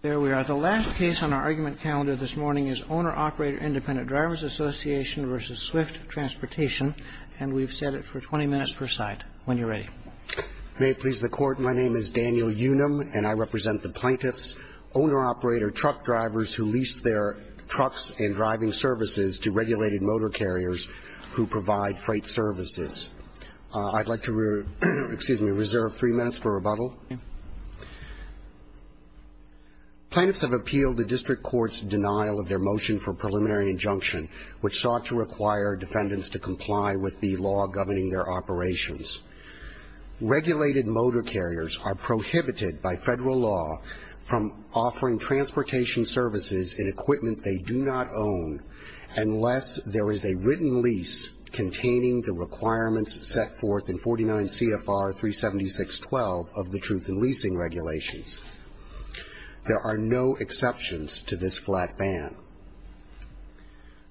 There we are. The last case on our argument calendar this morning is Owner-Operator Independent Drivers Association v. Swift Transportation, and we've set it for 20 minutes per side. When you're ready. May it please the Court, my name is Daniel Unum, and I represent the plaintiffs, Owner-Operator truck drivers who lease their trucks and driving services to regulated motor carriers who provide freight services. I'd like to, excuse me, reserve three minutes for rebuttal. Plaintiffs have appealed the district court's denial of their motion for preliminary injunction, which sought to require defendants to comply with the law governing their operations. Regulated motor carriers are prohibited by federal law from offering transportation services in equipment they do not own unless there is a written lease containing the requirements set forth in 49 CFR 376.12 of the Truth in Leasing Regulations. There are no exceptions to this flat ban.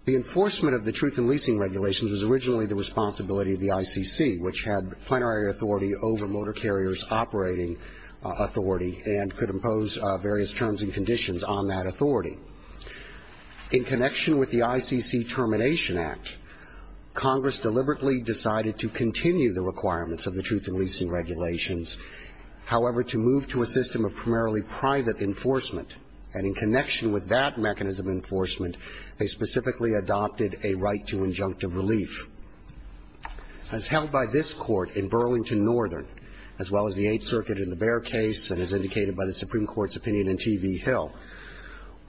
The enforcement of the Truth in Leasing Regulations was originally the responsibility of the ICC, which had plenary authority over motor carriers operating authority and could impose various terms and conditions on that authority. In connection with the ICC Termination Act, Congress deliberately decided to continue the requirements of the Truth in Leasing Regulations. However, to move to a system of primarily private enforcement, and in connection with that mechanism of enforcement, they specifically adopted a right to injunctive relief. As held by this Court in Burlington Northern, as well as the Eighth Circuit in the Bair case, and as indicated by the Supreme Court's opinion in T.V. Hill,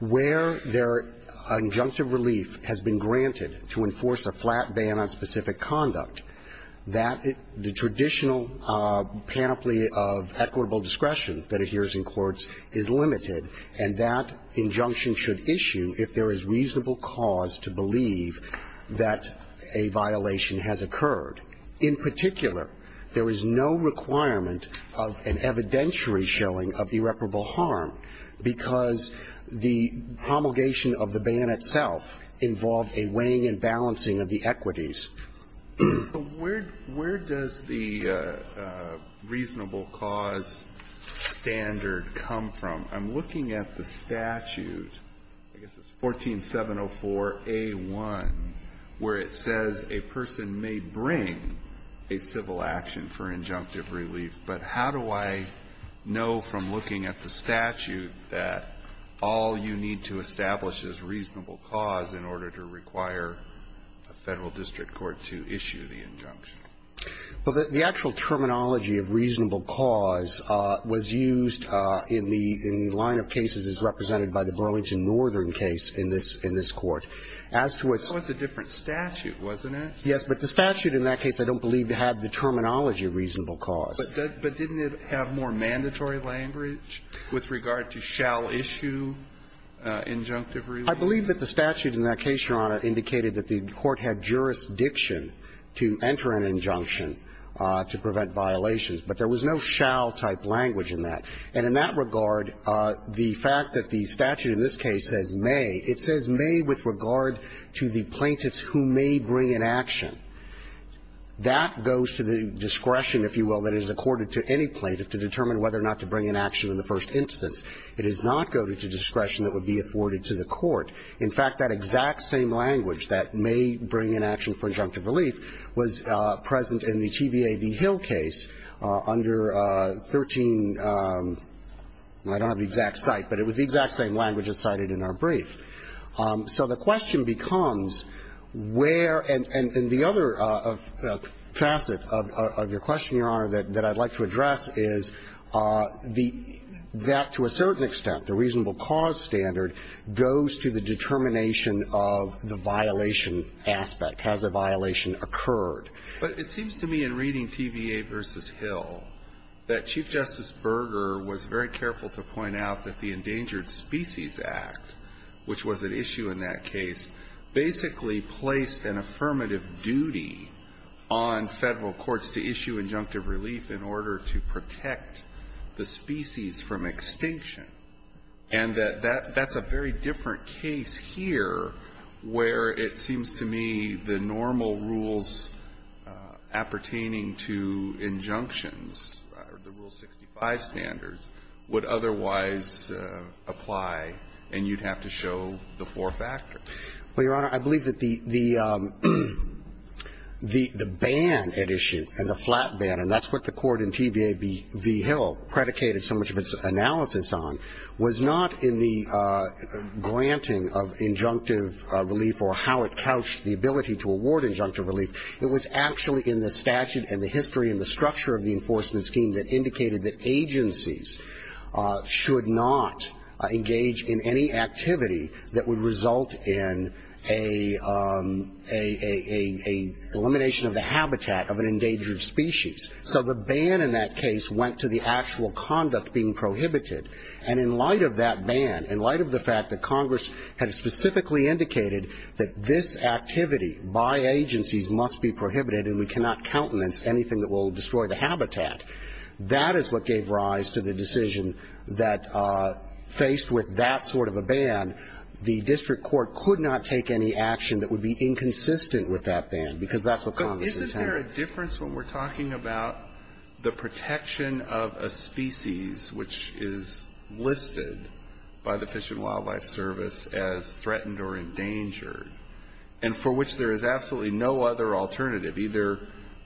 where their injunctive relief has been granted to enforce a flat ban on specific conduct, that the traditional panoply of equitable discretion that adheres in courts is limited, and that injunction should issue if there is reasonable cause to believe that a violation has occurred. In particular, there is no requirement of an evidentiary showing of irreparable harm because the promulgation of the ban itself involved a weighing and balancing of the equities. But where does the reasonable cause standard come from? I'm looking at the statute, I guess it's 14704A1, where it says a person may bring a civil action for injunctive relief. But how do I know from looking at the statute that all you need to establish is reasonable cause in order to require a Federal district court to issue the injunction? Well, the actual terminology of reasonable cause was used in the line of cases as represented by the Burlington Northern case in this Court. As to what's the different statute, wasn't it? Yes, but the statute in that case, I don't believe, had the terminology of reasonable cause. But didn't it have more mandatory language with regard to shall issue injunctive relief? I believe that the statute in that case, Your Honor, indicated that the court had jurisdiction to enter an injunction to prevent violations, but there was no shall-type language in that. And in that regard, the fact that the statute in this case says may, it says may with regard to the plaintiffs who may bring an action. That goes to the discretion, if you will, that is accorded to any plaintiff to determine whether or not to bring an action in the first instance. It does not go to discretion that would be afforded to the court. In fact, that exact same language, that may bring an action for injunctive relief, was present in the TVA v. Hill case under 13 – I don't have the exact cite, but it was the exact same language as cited in our brief. So the question becomes where – and the other facet of your question, Your Honor, that I'd like to address is the – that to a certain extent, the reasonable cause standard goes to the determination of the violation aspect, has a violation occurred. But it seems to me in reading TVA v. Hill that Chief Justice Berger was very careful to point out that the Endangered Species Act, which was an issue in that case, basically placed an affirmative duty on Federal courts to issue injunctive relief in order to protect the species from extinction, and that that's a very different case here where it seems to me the normal rules appertaining to injunctions, the Rule 65 standards, would otherwise apply and you'd have to show the four factors. Well, Your Honor, I believe that the ban at issue and the flat ban, and that's what the court in TVA v. Hill predicated so much of its analysis on, was not in the granting of injunctive relief or how it couched the ability to award injunctive relief. It was actually in the statute and the history and the structure of the enforcement scheme that indicated that agencies should not engage in any activity that would result in a elimination of the habitat of an endangered species. So the ban in that case went to the actual conduct being prohibited. And in light of that ban, in light of the fact that Congress had specifically indicated that this activity by agencies must be prohibited and we cannot countenance anything that will destroy the habitat, that is what gave rise to the decision that, faced with that sort of a ban, the district court could not take any action that would be inconsistent with that ban, because that's what Congress intended. But isn't there a difference when we're talking about the protection of a species which is listed by the Fish and Wildlife Service as threatened or endangered and for which there is absolutely no other alternative? Either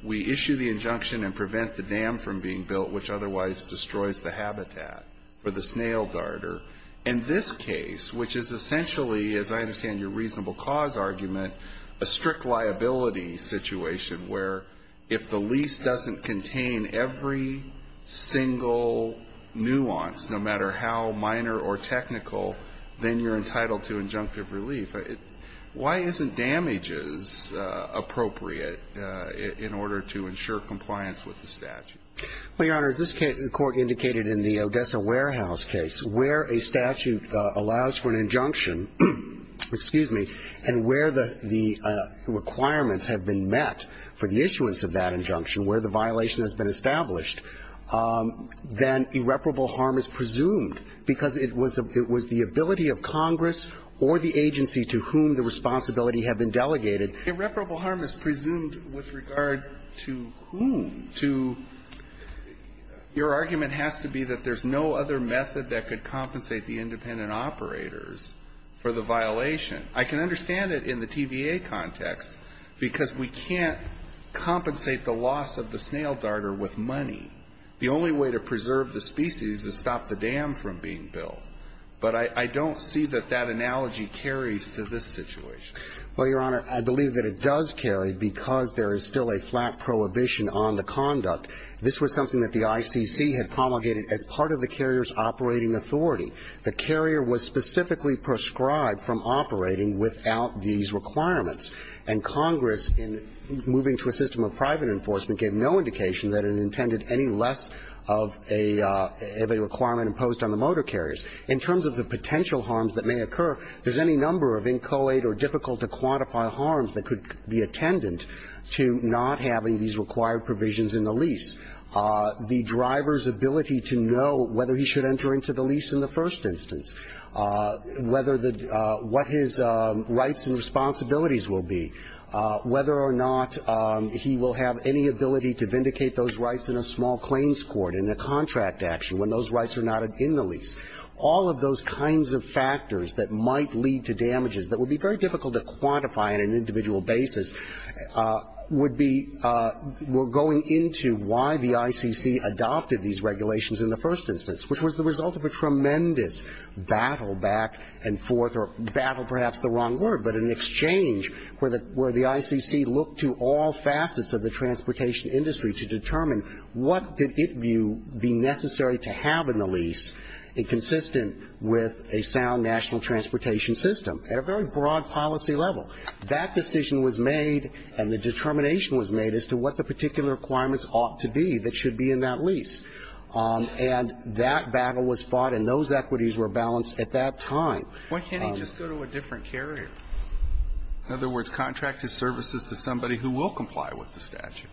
we issue the injunction and prevent the dam from being built, which otherwise destroys the habitat for the snail darter. In this case, which is essentially, as I understand your reasonable cause argument, a strict liability situation where if the lease doesn't contain every single nuance, no matter how minor or technical, then you're entitled to injunctive relief. Why isn't damages appropriate in order to ensure compliance with the statute? Well, Your Honor, as this Court indicated in the Odessa Warehouse case, where a statute allows for an injunction, excuse me, and where the requirements have been met for the issuance of that injunction, where the violation has been established, then irreparable harm is presumed, because it was the ability of Congress or the agency to whom the responsibility had been delegated. Irreparable harm is presumed with regard to whom? To your argument has to be that there's no other method that could compensate the independent operators for the violation. I can understand it in the TVA context, because we can't compensate the loss of the snail darter with money. The only way to preserve the species is to stop the dam from being built. But I don't see that that analogy carries to this situation. Well, Your Honor, I believe that it does carry because there is still a flat prohibition on the conduct. This was something that the ICC had promulgated as part of the carrier's operating authority. The carrier was specifically prescribed from operating without these requirements. And Congress, in moving to a system of private enforcement, gave no indication that it intended any less of a requirement imposed on the motor carriers. In terms of the potential harms that may occur, there's any number of inchoate or difficult-to-quantify harms that could be attendant to not having these required provisions in the lease. The driver's ability to know whether he should enter into the lease in the first instance, whether the – what his rights and responsibilities will be, whether or not he will have any ability to vindicate those rights in a small claims court, in a contract action, when those rights are not in the lease. All of those kinds of factors that might lead to damages that would be very difficult to quantify on an individual basis would be – were going into why the ICC adopted these regulations in the first instance, which was the result of a tremendous battle back and forth – or battle, perhaps the wrong word – but an exchange where the ICC looked to all facets of the transportation industry to determine what did it view be necessary to have in the lease, consistent with a sound national transportation system, at a very broad policy level. That decision was made and the determination was made as to what the particular requirements ought to be that should be in that lease. And that battle was fought and those equities were balanced at that time. Why can't he just go to a different carrier? In other words, contract his services to somebody who will comply with the statute.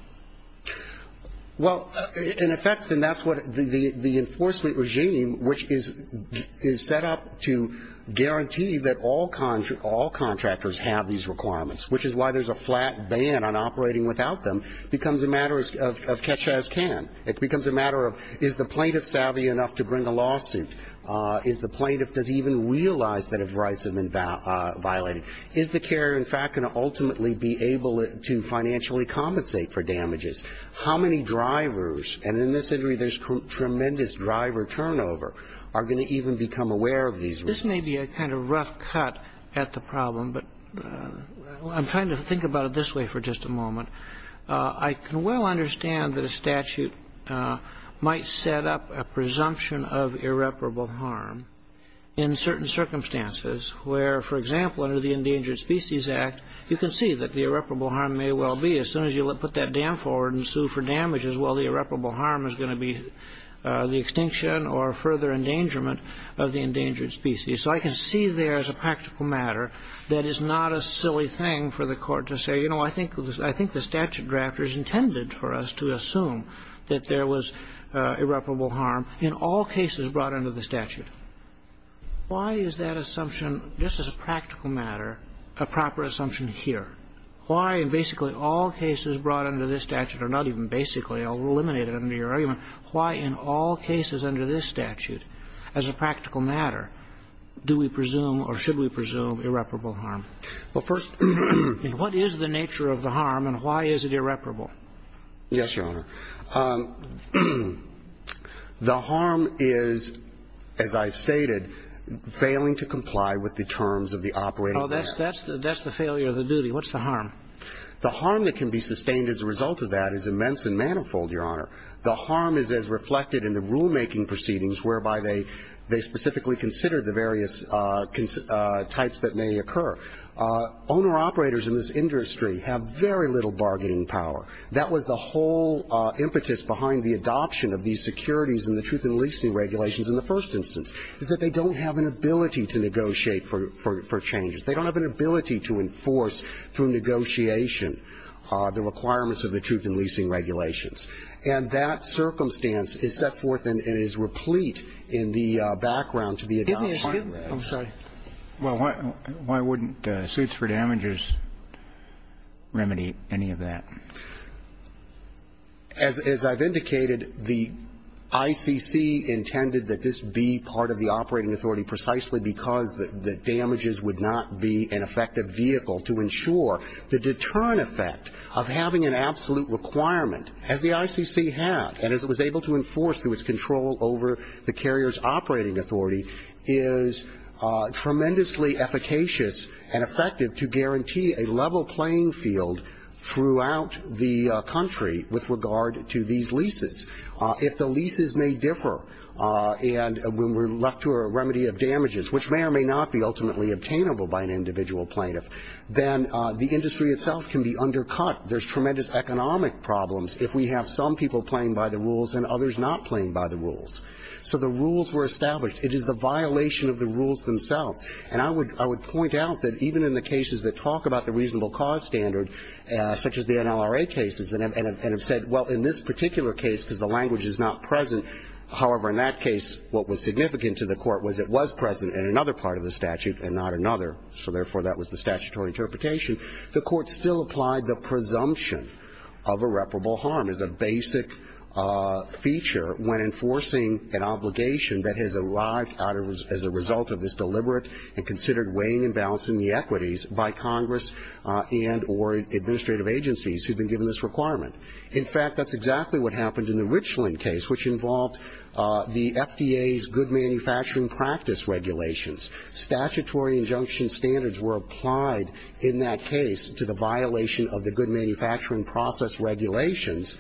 Well, in effect, and that's what the enforcement regime, which is set up to guarantee that all contractors have these requirements, which is why there's a flat ban on operating without them, becomes a matter of catch-as-can. It becomes a matter of is the plaintiff savvy enough to bring a lawsuit? Is the plaintiff – does he even realize that his rights have been violated? Is the carrier, in fact, going to ultimately be able to financially compensate for damages? How many drivers – and in this injury there's tremendous driver turnover – are going to even become aware of these risks? This may be a kind of rough cut at the problem, but I'm trying to think about it this way for just a moment. I can well understand that a statute might set up a presumption of irreparable harm in certain circumstances where, for example, under the Endangered Species Act, you can see that the irreparable harm may well be, as soon as you put that dam forward and sue for damages, well, the irreparable harm is going to be the extinction or further endangerment of the endangered species. So I can see there is a practical matter that is not a silly thing for the Court to say, you know, I think the statute drafters intended for us to assume that there was irreparable harm in all cases brought under the statute. Why is that assumption, just as a practical matter, a proper assumption here? Why in basically all cases brought under this statute, or not even basically eliminated under your argument, why in all cases under this statute as a practical matter do we presume or should we presume irreparable harm? Well, first ---- And what is the nature of the harm and why is it irreparable? Yes, Your Honor. The harm is, as I've stated, failing to comply with the terms of the operating plan. Oh, that's the failure of the duty. What's the harm? The harm that can be sustained as a result of that is immense and manifold, Your Honor. The harm is as reflected in the rulemaking proceedings whereby they specifically consider the various types that may occur. Owner-operators in this industry have very little bargaining power. That was the whole impetus behind the adoption of these securities and the truth in leasing regulations in the first instance, is that they don't have an ability to negotiate for changes. They don't have an ability to enforce through negotiation the requirements of the truth in leasing regulations. And that circumstance is set forth and is replete in the background to the adoption plan. I'm sorry. Well, why wouldn't suits for damages remedy any of that? As I've indicated, the ICC intended that this be part of the operating authority precisely because the damages would not be an effective vehicle to ensure the deterrent effect of having an absolute requirement as the ICC had and as it was able to enforce through its control over the carrier's operating authority is tremendously efficacious and effective to guarantee a level playing field throughout the country with regard to these leases. If the leases may differ and when we're left to a remedy of damages, which may or may not be ultimately obtainable by an individual plaintiff, then the industry itself can be undercut. There's tremendous economic problems if we have some people playing by the rules and others not playing by the rules. So the rules were established. It is the violation of the rules themselves. And I would point out that even in the cases that talk about the reasonable cause standard, such as the NLRA cases, and have said, well, in this particular case, because the language is not present, however, in that case, what was significant to the Court was it was present in another part of the statute and not another, so therefore, that was the statutory interpretation. The Court still applied the presumption of irreparable harm as a basic feature when enforcing an obligation that has arrived as a result of this deliberate and considered weighing and balancing the equities by Congress and or administrative agencies who have been given this requirement. In fact, that's exactly what happened in the Richland case, which involved the FDA's good manufacturing practice regulations. Statutory injunction standards were applied in that case to the violation of the good manufacturing process regulations,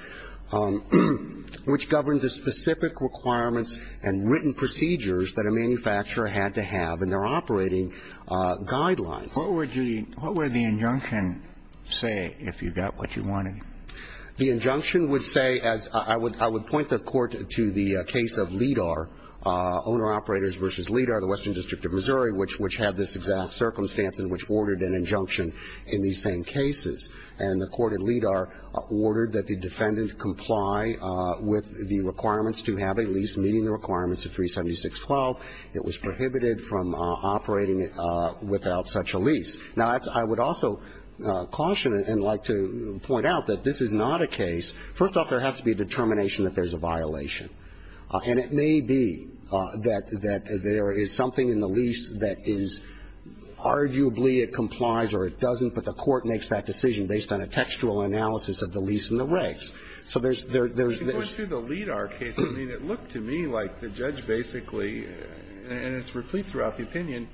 which governed the specific requirements and written procedures that a manufacturer had to have in their operating guidelines. What would the injunction say if you got what you wanted? The injunction would say, as I would point the Court to the case of LIDAR, Owner Operators v. LIDAR, the Western District of Missouri, which had this exact circumstance in which ordered an injunction in these same cases. And the Court in LIDAR ordered that the defendant comply with the requirements to have a lease meeting the requirements of 376.12. It was prohibited from operating without such a lease. Now, I would also caution and like to point out that this is not a case. First off, there has to be a determination that there's a violation. And it may be that there is something in the lease that is arguably it complies or it doesn't, but the Court makes that decision based on a textual analysis of the lease and the regs. So there's this ---- It goes through the LIDAR case. I mean, it looked to me like the judge basically, and it's replete throughout the opinion,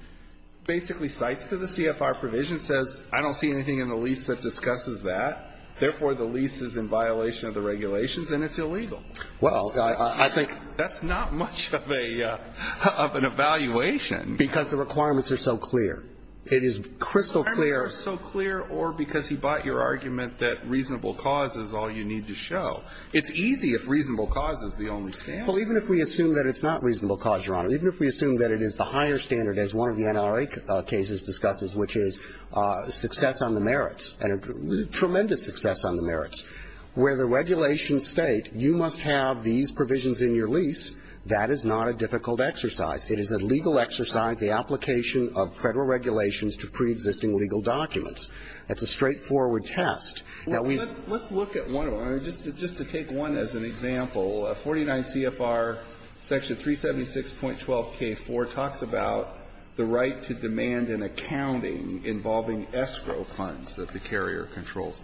basically cites to the CFR provision, says, I don't see anything in the lease that discusses that. Therefore, the lease is in violation of the regulations, and it's illegal. Well, I think ---- That's not much of a ---- of an evaluation. Because the requirements are so clear. It is crystal clear. The requirements are so clear, or because he bought your argument that reasonable cause is all you need to show. It's easy if reasonable cause is the only standard. Well, even if we assume that it's not reasonable cause, Your Honor, even if we assume that it is the higher standard, as one of the NRA cases discusses, which is success on the merits, tremendous success on the merits, where the regulations state you must have these provisions in your lease, that is not a difficult exercise. It is a legal exercise, the application of Federal regulations to preexisting legal documents. It's a straightforward test. Now, we ---- The 49 CFR section 376.12k4 talks about the right to demand an accounting involving escrow funds that the carrier controls.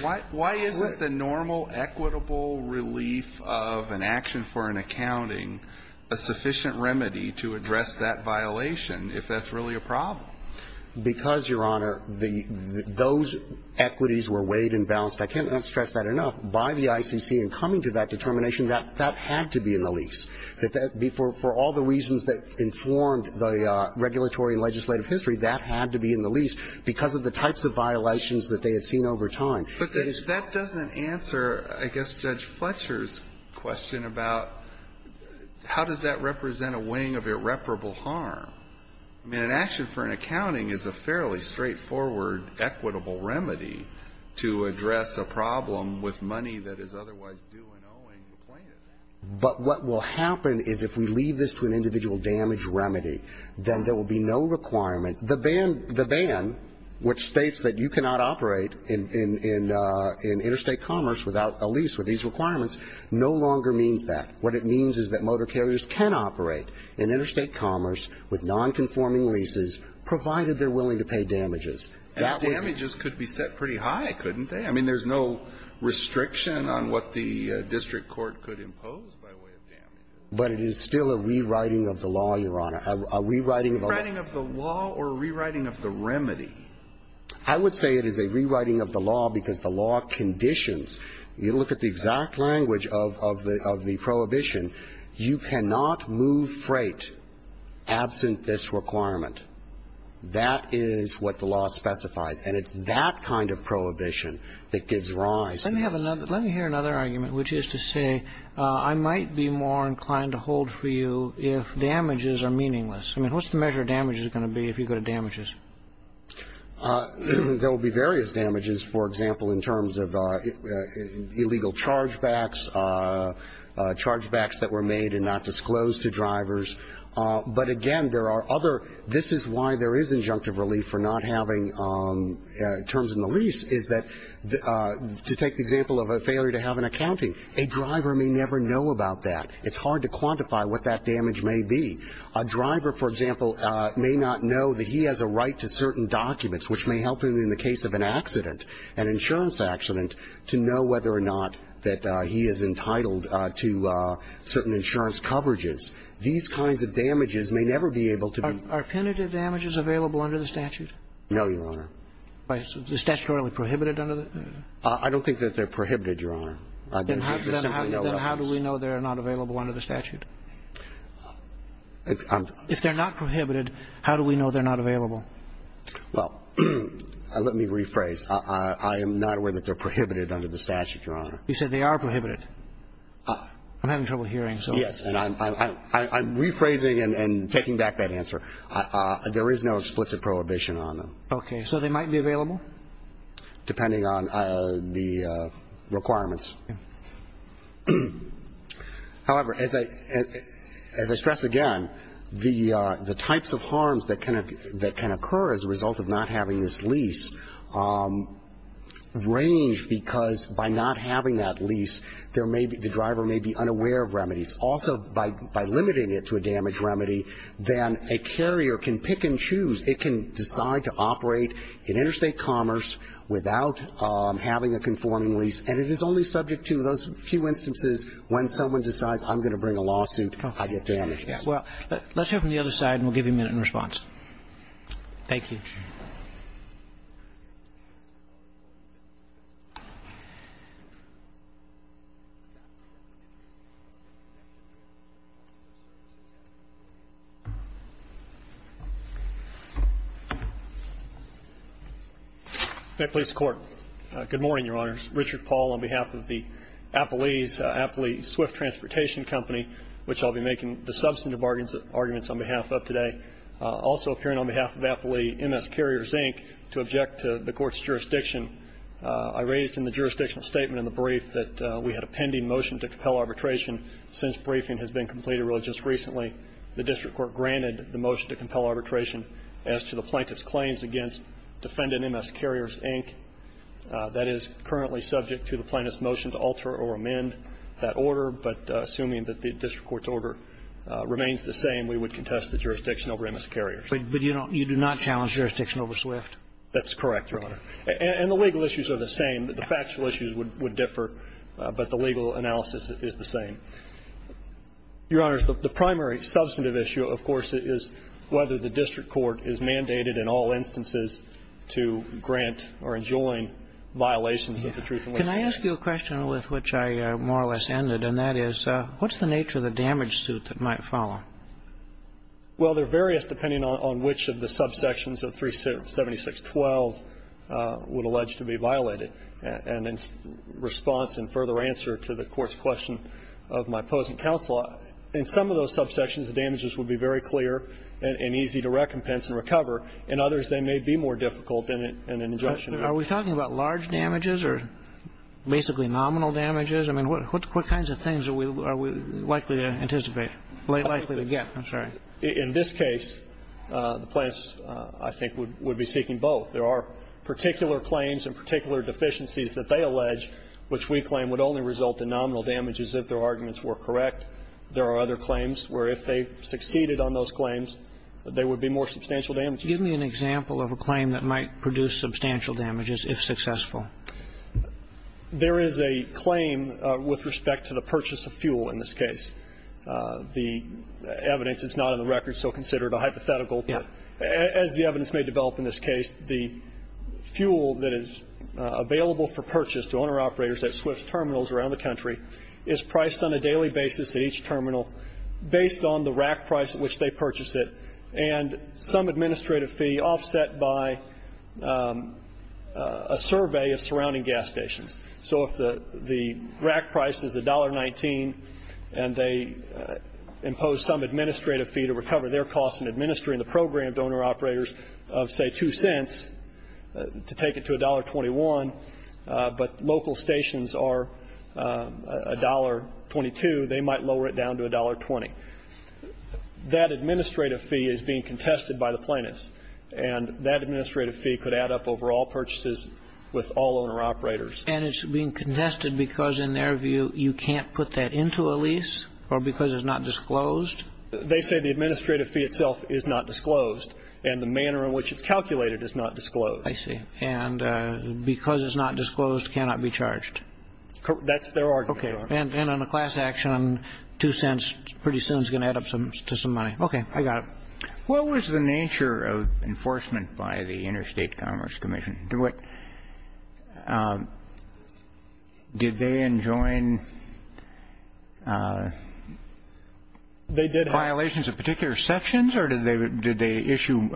Why isn't the normal equitable relief of an action for an accounting a sufficient remedy to address that violation if that's really a problem? Because, Your Honor, the ---- those equities were weighed and balanced, I can't stress that enough, by the ICC in coming to that determination. That had to be in the lease. For all the reasons that informed the regulatory and legislative history, that had to be in the lease because of the types of violations that they had seen over time. But that doesn't answer, I guess, Judge Fletcher's question about how does that represent a weighing of irreparable harm. I mean, an action for an accounting is a fairly straightforward equitable remedy to address a problem with money that is otherwise due and owing the plaintiff. But what will happen is if we leave this to an individual damage remedy, then there will be no requirement. The ban ---- the ban, which states that you cannot operate in interstate commerce without a lease with these requirements, no longer means that. What it means is that motor carriers can operate in interstate commerce with nonconforming leases, provided they're willing to pay damages. And the damages could be set pretty high, couldn't they? I mean, there's no restriction on what the district court could impose by way of damages. But it is still a rewriting of the law, Your Honor, a rewriting of the law. A rewriting of the law or a rewriting of the remedy? I would say it is a rewriting of the law because the law conditions. You look at the exact language of the prohibition, you cannot move freight absent this requirement. That is what the law specifies. And it's that kind of prohibition that gives rise to this. Let me have another ---- let me hear another argument, which is to say I might be more inclined to hold for you if damages are meaningless. I mean, what's the measure of damages going to be if you go to damages? There will be various damages, for example, in terms of illegal chargebacks, chargebacks that were made and not disclosed to drivers. But, again, there are other ---- this is why there is injunctive relief for not having terms in the lease, is that to take the example of a failure to have an accounting, a driver may never know about that. It's hard to quantify what that damage may be. A driver, for example, may not know that he has a right to certain documents, which may help him in the case of an accident, an insurance accident, to know whether or not that he is entitled to certain insurance coverages. These kinds of damages may never be able to be ---- Are penitent damages available under the statute? No, Your Honor. Right. Is it statutorily prohibited under the ---- I don't think that they're prohibited, Your Honor. Then how do we know they're not available under the statute? If they're not prohibited, how do we know they're not available? Well, let me rephrase. I am not aware that they're prohibited under the statute, Your Honor. You said they are prohibited. I'm having trouble hearing, so ---- Yes, and I'm rephrasing and taking back that answer. There is no explicit prohibition on them. Okay. So they might be available? Depending on the requirements. However, as I stress again, the types of harms that can occur as a result of not having this lease range because by not having that lease, there may be ---- the driver may be unaware of remedies. Also, by limiting it to a damage remedy, then a carrier can pick and choose. It can decide to operate in interstate commerce without having a conforming lease, and it is only subject to those few instances when someone decides, I'm going to bring a lawsuit, I get damages. Well, let's hear from the other side, and we'll give you a minute in response. Thank you. May I please have the Court? Good morning, Your Honors. Richard Paul on behalf of the Applee's, Applee Swift Transportation Company, which I'll be making the substantive arguments on behalf of today. Also appearing on behalf of Applee, MS Carriers, Inc., to object to the Court's jurisdiction. I raised in the jurisdictional statement in the brief that we had a pending motion to compel arbitration. Since briefing has been completed really just recently, the district court granted the motion to compel arbitration as to the plaintiff's claims against defendant MS Carriers, Inc. That is currently subject to the plaintiff's motion to alter or amend that order, but assuming that the district court's order remains the same, we would contest the jurisdiction over MS Carriers. But you do not challenge jurisdiction over Swift? That's correct, Your Honor. And the legal issues are the same. The factual issues would differ, but the legal analysis is the same. Your Honors, the primary substantive issue, of course, is whether the district court is mandated in all instances to grant or enjoin violations of the truth and lies statute. Can I ask you a question with which I more or less ended, and that is, what's the nature of the damage suit that might follow? Well, there are various, depending on which of the subsections of 376.12 would allege to be violated, and in response and further answer to the Court's question of my opposing counsel, in some of those subsections, the damages would be very clear and easy to recompense and recover. In others, they may be more difficult than an injunction. Are we talking about large damages or basically nominal damages? I mean, what kinds of things are we likely to anticipate, likely to get? I'm sorry. In this case, the plaintiffs, I think, would be seeking both. There are particular claims and particular deficiencies that they allege, which we claim would only result in nominal damages if their arguments were correct. There are other claims where if they succeeded on those claims, there would be more substantial damages. Give me an example of a claim that might produce substantial damages, if successful. There is a claim with respect to the purchase of fuel in this case. The evidence is not on the record, so consider it a hypothetical. Yeah. As the evidence may develop in this case, the fuel that is available for purchase to owner-operators at Swift's terminals around the country is priced on a daily basis at each terminal based on the rack price at which they purchase it and some of the surrounding gas stations. So if the rack price is $1.19 and they impose some administrative fee to recover their costs in administering the program to owner-operators of, say, $0.02 to take it to $1.21, but local stations are $1.22, they might lower it down to $1.20. That administrative fee is being contested by the plaintiffs, and that administrative fee could add up over all purchases with all owner-operators. And it's being contested because, in their view, you can't put that into a lease or because it's not disclosed? They say the administrative fee itself is not disclosed, and the manner in which it's calculated is not disclosed. I see. And because it's not disclosed, cannot be charged. That's their argument. Okay. And on a class action, $0.02 pretty soon is going to add up to some money. Okay. I got it. What was the nature of enforcement by the Interstate Commerce Commission? Did they enjoin violations of particular sections, or did they issue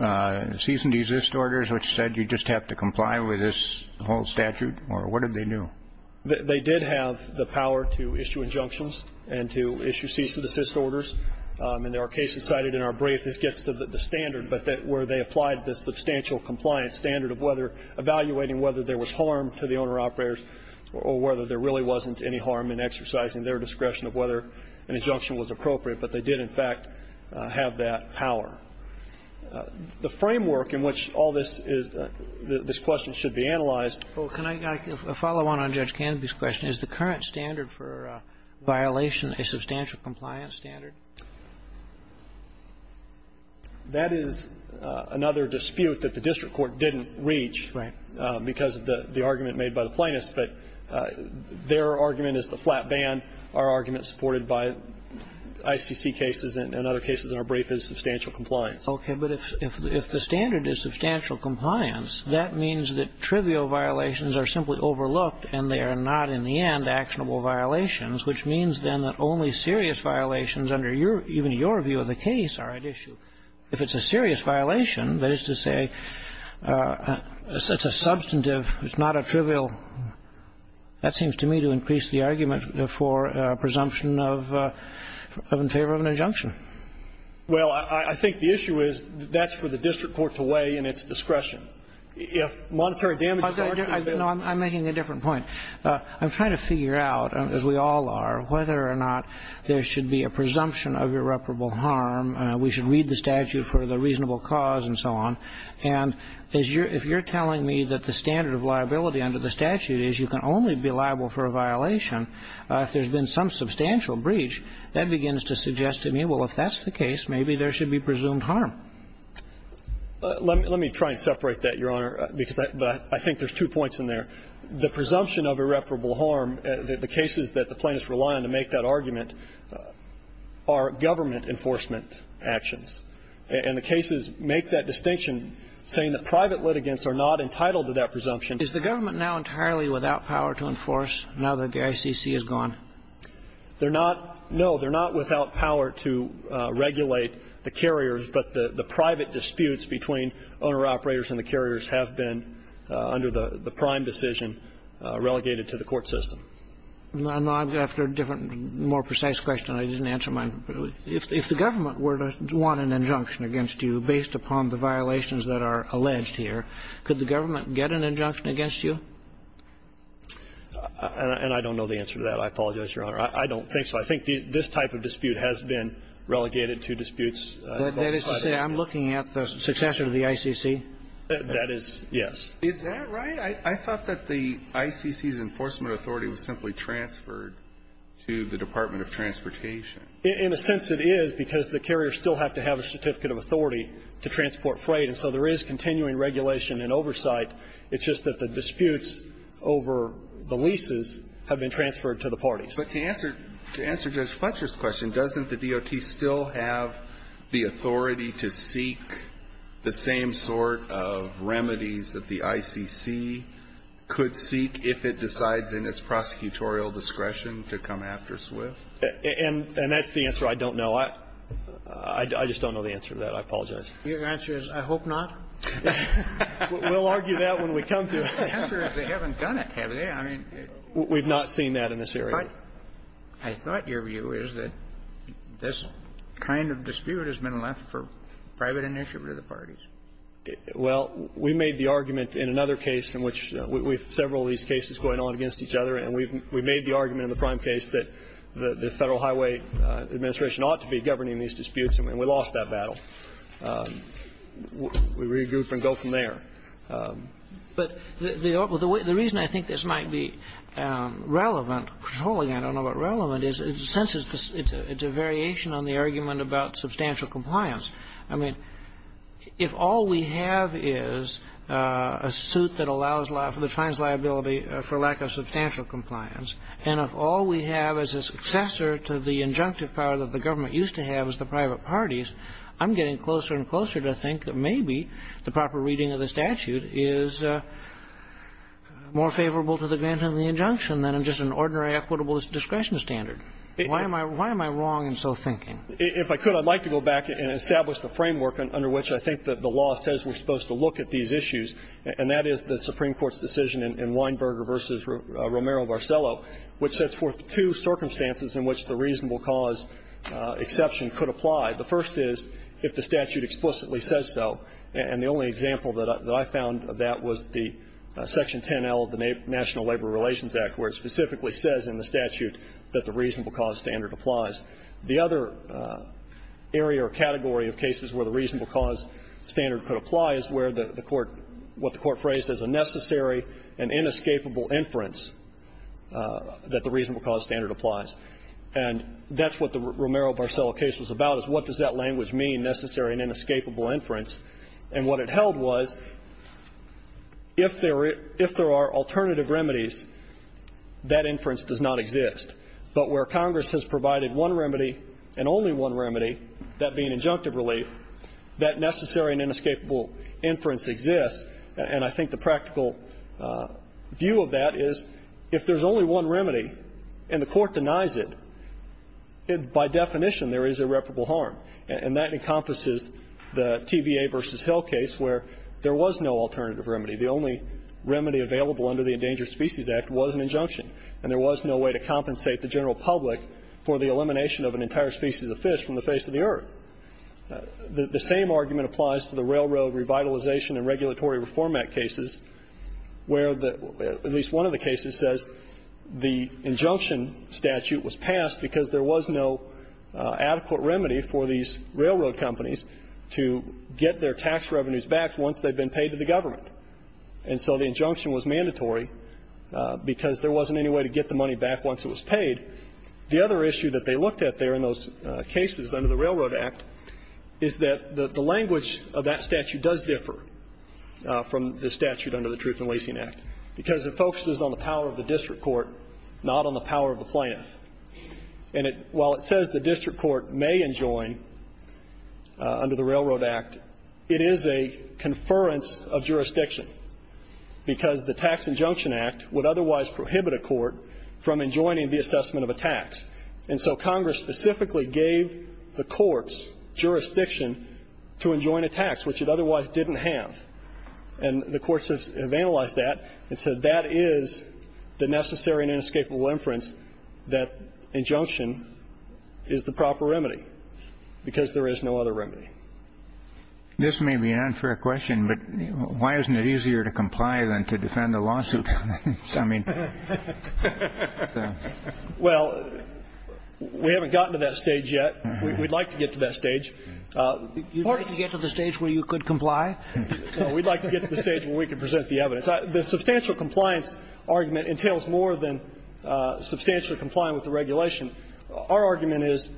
cease-and-desist orders which said you just have to comply with this whole statute? Or what did they do? They did have the power to issue injunctions and to issue cease-and-desist orders. And there are cases cited in our brief. This gets to the standard, but that where they applied the substantial compliance standard of whether evaluating whether there was harm to the owner-operators or whether there really wasn't any harm in exercising their discretion of whether an injunction was appropriate. But they did, in fact, have that power. The framework in which all this is the question should be analyzed. Well, can I follow on Judge Canopy's question? Is the current standard for violation a substantial compliance standard? That is another dispute that the district court didn't reach because of the argument made by the plaintiffs. But their argument is the flat band. Our argument supported by ICC cases and other cases in our brief is substantial compliance. Okay. But if the standard is substantial compliance, that means that trivial violations are simply overlooked and they are not, in the end, actionable violations, which means then that only serious violations under even your view of the case are at issue. If it's a serious violation, that is to say it's a substantive, it's not a trivial one, that seems to me to increase the argument for presumption of in favor of an injunction. Well, I think the issue is that's for the district court to weigh in its discretion. If monetary damages are to be availed to the district court. No, I'm making a different point. I'm trying to figure out, as we all are, whether or not there should be a presumption of irreparable harm. We should read the statute for the reasonable cause and so on. And if you're telling me that the standard of liability under the statute is you can only be liable for a violation if there's been some substantial breach, that begins to suggest to me, well, if that's the case, maybe there should be presumed harm. Let me try and separate that, Your Honor, because I think there's two points in there. The presumption of irreparable harm, the cases that the plaintiffs rely on to make that argument, are government enforcement actions. And the cases make that distinction, saying that private litigants are not entitled to that presumption. Is the government now entirely without power to enforce now that the ICC is gone? They're not. No, they're not without power to regulate the carriers. But the private disputes between owner-operators and the carriers have been, under the prime decision, relegated to the court system. After a different, more precise question, I didn't answer mine. If the government were to want an injunction against you based upon the violations that are alleged here, could the government get an injunction against you? And I don't know the answer to that. I apologize, Your Honor. I don't think so. I think this type of dispute has been relegated to disputes. That is to say, I'm looking at the successor to the ICC? That is, yes. Is that right? I thought that the ICC's enforcement authority was simply transferred to the Department of Transportation. In a sense, it is, because the carriers still have to have a certificate of authority to transport freight. And so there is continuing regulation and oversight. It's just that the disputes over the leases have been transferred to the parties. But to answer Judge Fletcher's question, doesn't the DOT still have the authority to seek the same sort of remedies that the ICC could seek if it decides in its prosecutorial discretion to come after SWIFT? And that's the answer I don't know. I just don't know the answer to that. I apologize. Your answer is, I hope not? We'll argue that when we come to it. The answer is, they haven't done it, have they? I mean we've not seen that in this area. But I thought your view is that this kind of dispute has been left for private initiative to the parties. Well, we made the argument in another case in which we have several of these cases going on against each other, and we've made the argument in the prime case that the Federal Highway Administration ought to be governing these disputes, and we lost that battle. We regroup and go from there. But the reason I think this might be relevant, controlling, I don't know, but relevant, is in a sense it's a variation on the argument about substantial compliance. I mean, if all we have is a suit that allows liability, that finds liability for lack of substantial compliance, and if all we have is a successor to the injunctive power that the government used to have as the private parties, I'm getting closer and closer to think that maybe the proper reading of the statute is more favorable to the grant of the injunction than just an ordinary equitable discretion standard. Why am I wrong in so thinking? If I could, I'd like to go back and establish the framework under which I think that the law says we're supposed to look at these issues, and that is the Supreme Court's decision in Weinberger v. Romero-Barcello, which sets forth two circumstances in which the reasonable cause exception could apply. The first is, if the statute explicitly says so, and the only example that I found of that was the Section 10L of the National Labor Relations Act, where it specifically says in the statute that the reasonable cause standard applies. The other area or category of cases where the reasonable cause standard could apply is where the Court, what the Court phrased as a necessary and inescapable inference that the reasonable cause standard applies. And that's what the Romero-Barcello case was about, is what does that language mean, necessary and inescapable inference? And what it held was, if there are alternative remedies, that inference does not exist. But where Congress has provided one remedy and only one remedy, that being injunctive relief, that necessary and inescapable inference exists, and I think the practical view of that is, if there's only one remedy and the Court denies it, by definition there is irreparable harm. And that encompasses the TVA v. Hill case where there was no alternative remedy. The only remedy available under the Endangered Species Act was an injunction, and there was no way to compensate the general public for the elimination of an entire species of fish from the face of the earth. The same argument applies to the Railroad Revitalization and Regulatory Reform Act cases, where at least one of the cases says the injunction statute was passed because there was no adequate remedy for these railroad companies to get their tax revenues back once they had been paid to the government. And so the injunction was mandatory because there wasn't any way to get the money back once it was paid. The other issue that they looked at there in those cases under the Railroad Act is that the language of that statute does differ from the statute under the Truth in Lacing Act, because it focuses on the power of the district court, not on the power of the plaintiff. And while it says the district court may enjoin under the Railroad Act, it is a conference of jurisdiction, because the Tax Injunction Act would otherwise prohibit a court from enjoining the assessment of a tax. And so Congress specifically gave the courts jurisdiction to enjoin a tax, which it otherwise didn't have. And the courts have analyzed that and said that is the necessary and inescapable inference that injunction is the proper remedy, because there is no other remedy. This may be an unfair question, but why isn't it easier to comply than to defend a lawsuit? I mean, so. Well, we haven't gotten to that stage yet. We'd like to get to that stage. You'd like to get to the stage where you could comply? No. We'd like to get to the stage where we could present the evidence. The substantial compliance argument entails more than substantially complying with the regulation. Our argument is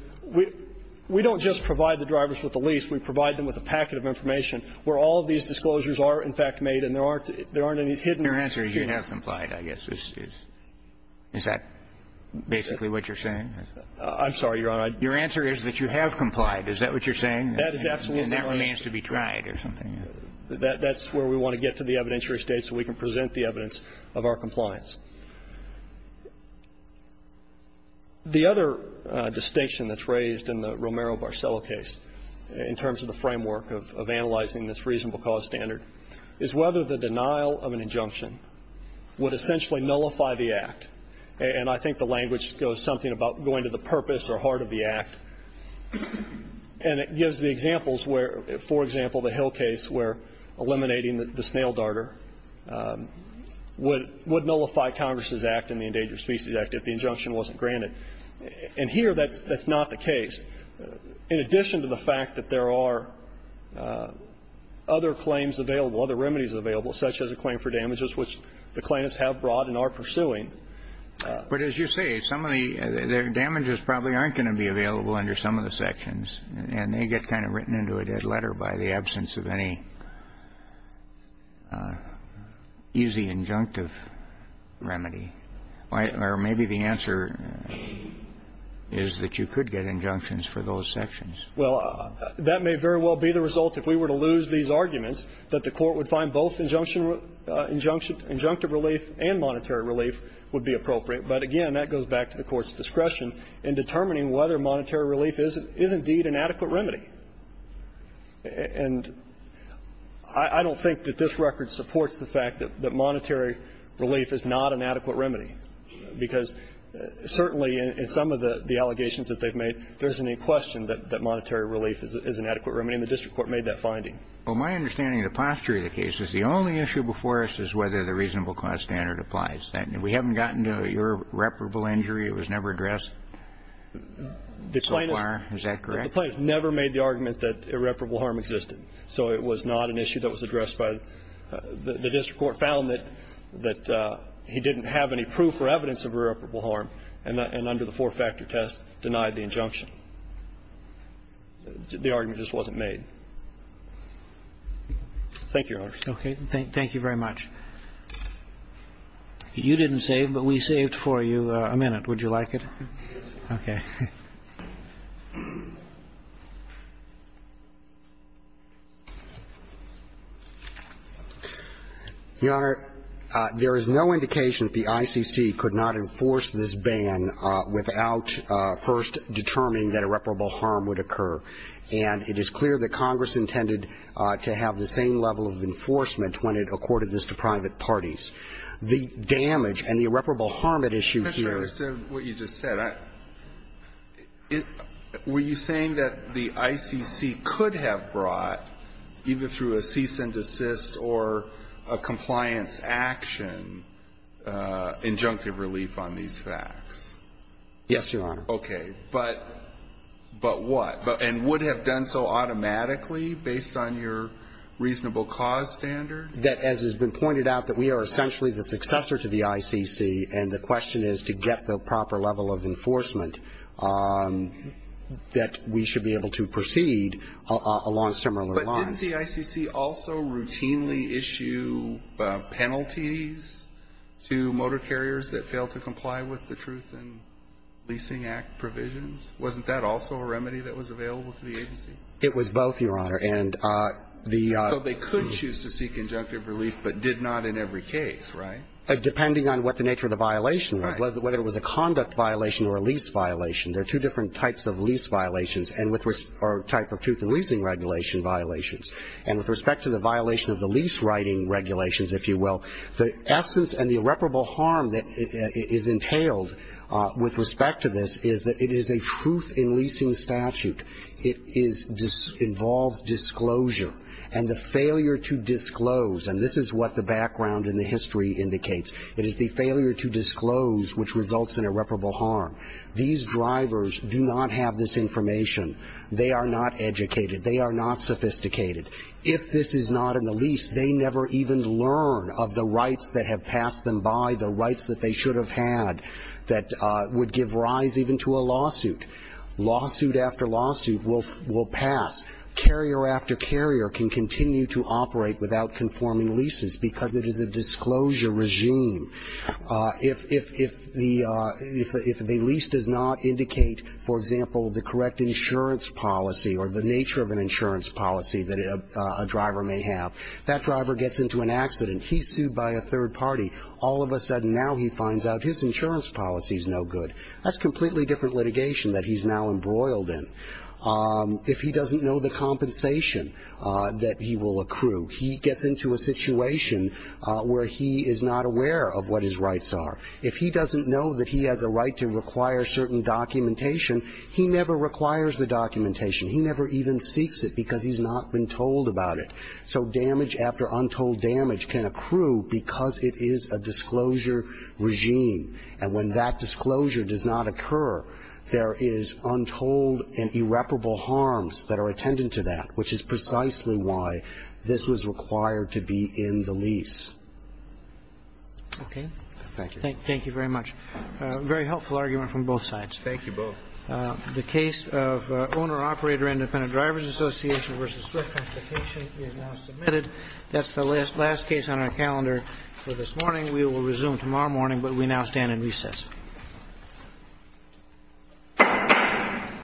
we don't just provide the drivers with the lease. We provide them with a packet of information where all of these disclosures are in fact made and there aren't any hidden. Your answer is you have complied, I guess. Is that basically what you're saying? I'm sorry, Your Honor. Your answer is that you have complied. Is that what you're saying? That is absolutely right. And that remains to be tried or something. That's where we want to get to the evidentiary stage so we can present the evidence of our compliance. The other distinction that's raised in the Romero-Barcello case in terms of the framework of analyzing this reasonable cause standard is whether the denial of an injunction would essentially nullify the act. And I think the language goes something about going to the purpose or heart of the act. And it gives the examples where, for example, the Hill case where eliminating the snail darter would nullify Congress's act in the Endangered Species Act if the injunction wasn't granted. And here that's not the case. In addition to the fact that there are other claims available, other remedies available, such as a claim for damages, which the claimants have brought and are pursuing. But as you say, some of the damages probably aren't going to be available under some of the sections, and they get kind of written into a dead letter by the absence of any easy injunctive remedy. Or maybe the answer is that you could get injunctions for those sections. Well, that may very well be the result, if we were to lose these arguments, that the Court would find both injunctive relief and monetary relief would be appropriate. But again, that goes back to the Court's discretion in determining whether monetary relief is indeed an adequate remedy. And I don't think that this record supports the fact that monetary relief is not an adequate remedy, because certainly in some of the allegations that they've made, there isn't any question that monetary relief is an adequate remedy. And the district court made that finding. Well, my understanding of the posture of the case is the only issue before us is whether the reasonable cause standard applies. We haven't gotten to your irreparable injury. It was never addressed so far. Is that correct? The plaintiff never made the argument that irreparable harm existed. So it was not an issue that was addressed by the district court. The district court found that he didn't have any proof or evidence of irreparable harm and under the four-factor test denied the injunction. The argument just wasn't made. Thank you, Your Honor. Okay. Thank you very much. You didn't save, but we saved for you a minute. Would you like it? Okay. Your Honor, there is no indication that the ICC could not enforce this ban without first determining that irreparable harm would occur. And it is clear that Congress intended to have the same level of enforcement when it accorded this to private parties. The damage and the irreparable harm at issue here are the same. Were you saying that the ICC could have brought, either through a cease and desist or a compliance action, injunctive relief on these facts? Yes, Your Honor. Okay. But what? And would have done so automatically based on your reasonable cause standard? That, as has been pointed out, that we are essentially the successor to the ICC, and the question is to get the proper level of enforcement that we should be able to proceed along similar lines. But didn't the ICC also routinely issue penalties to motor carriers that failed to comply with the Truth in Leasing Act provisions? Wasn't that also a remedy that was available to the agency? It was both, Your Honor. And the ---- So they could choose to seek injunctive relief, but did not in every case, right? Depending on what the nature of the violation was, whether it was a conduct violation or a lease violation. There are two different types of lease violations and with ---- or type of truth in leasing regulation violations. And with respect to the violation of the lease writing regulations, if you will, the essence and the irreparable harm that is entailed with respect to this is that it is a truth in leasing statute. It is ---- involves disclosure. And the failure to disclose, and this is what the background in the history indicates, it is the failure to disclose which results in irreparable harm. These drivers do not have this information. They are not educated. They are not sophisticated. If this is not in the lease, they never even learn of the rights that have passed them by, the rights that they should have had that would give rise even to a lawsuit. Lawsuit after lawsuit will pass. Carrier after carrier can continue to operate without conforming leases because it is a disclosure regime. If the lease does not indicate, for example, the correct insurance policy or the nature of an insurance policy that a driver may have, that driver gets into an accident. He's sued by a third party. All of a sudden now he finds out his insurance policy is no good. That's completely different litigation that he's now embroiled in. If he doesn't know the compensation that he will accrue, he gets into a situation where he is not aware of what his rights are. If he doesn't know that he has a right to require certain documentation, he never requires the documentation. He never even seeks it because he's not been told about it. So damage after untold damage can accrue because it is a disclosure regime. And when that disclosure does not occur, there is untold and irreparable harms that are attendant to that, which is precisely why this was required to be in the lease. Roberts. Okay. Thank you. Thank you very much. A very helpful argument from both sides. Thank you both. The case of Owner-Operator Independent Drivers Association v. Swift Complication is now submitted. That's the last case on our calendar for this morning. We will resume tomorrow morning, but we now stand in recess.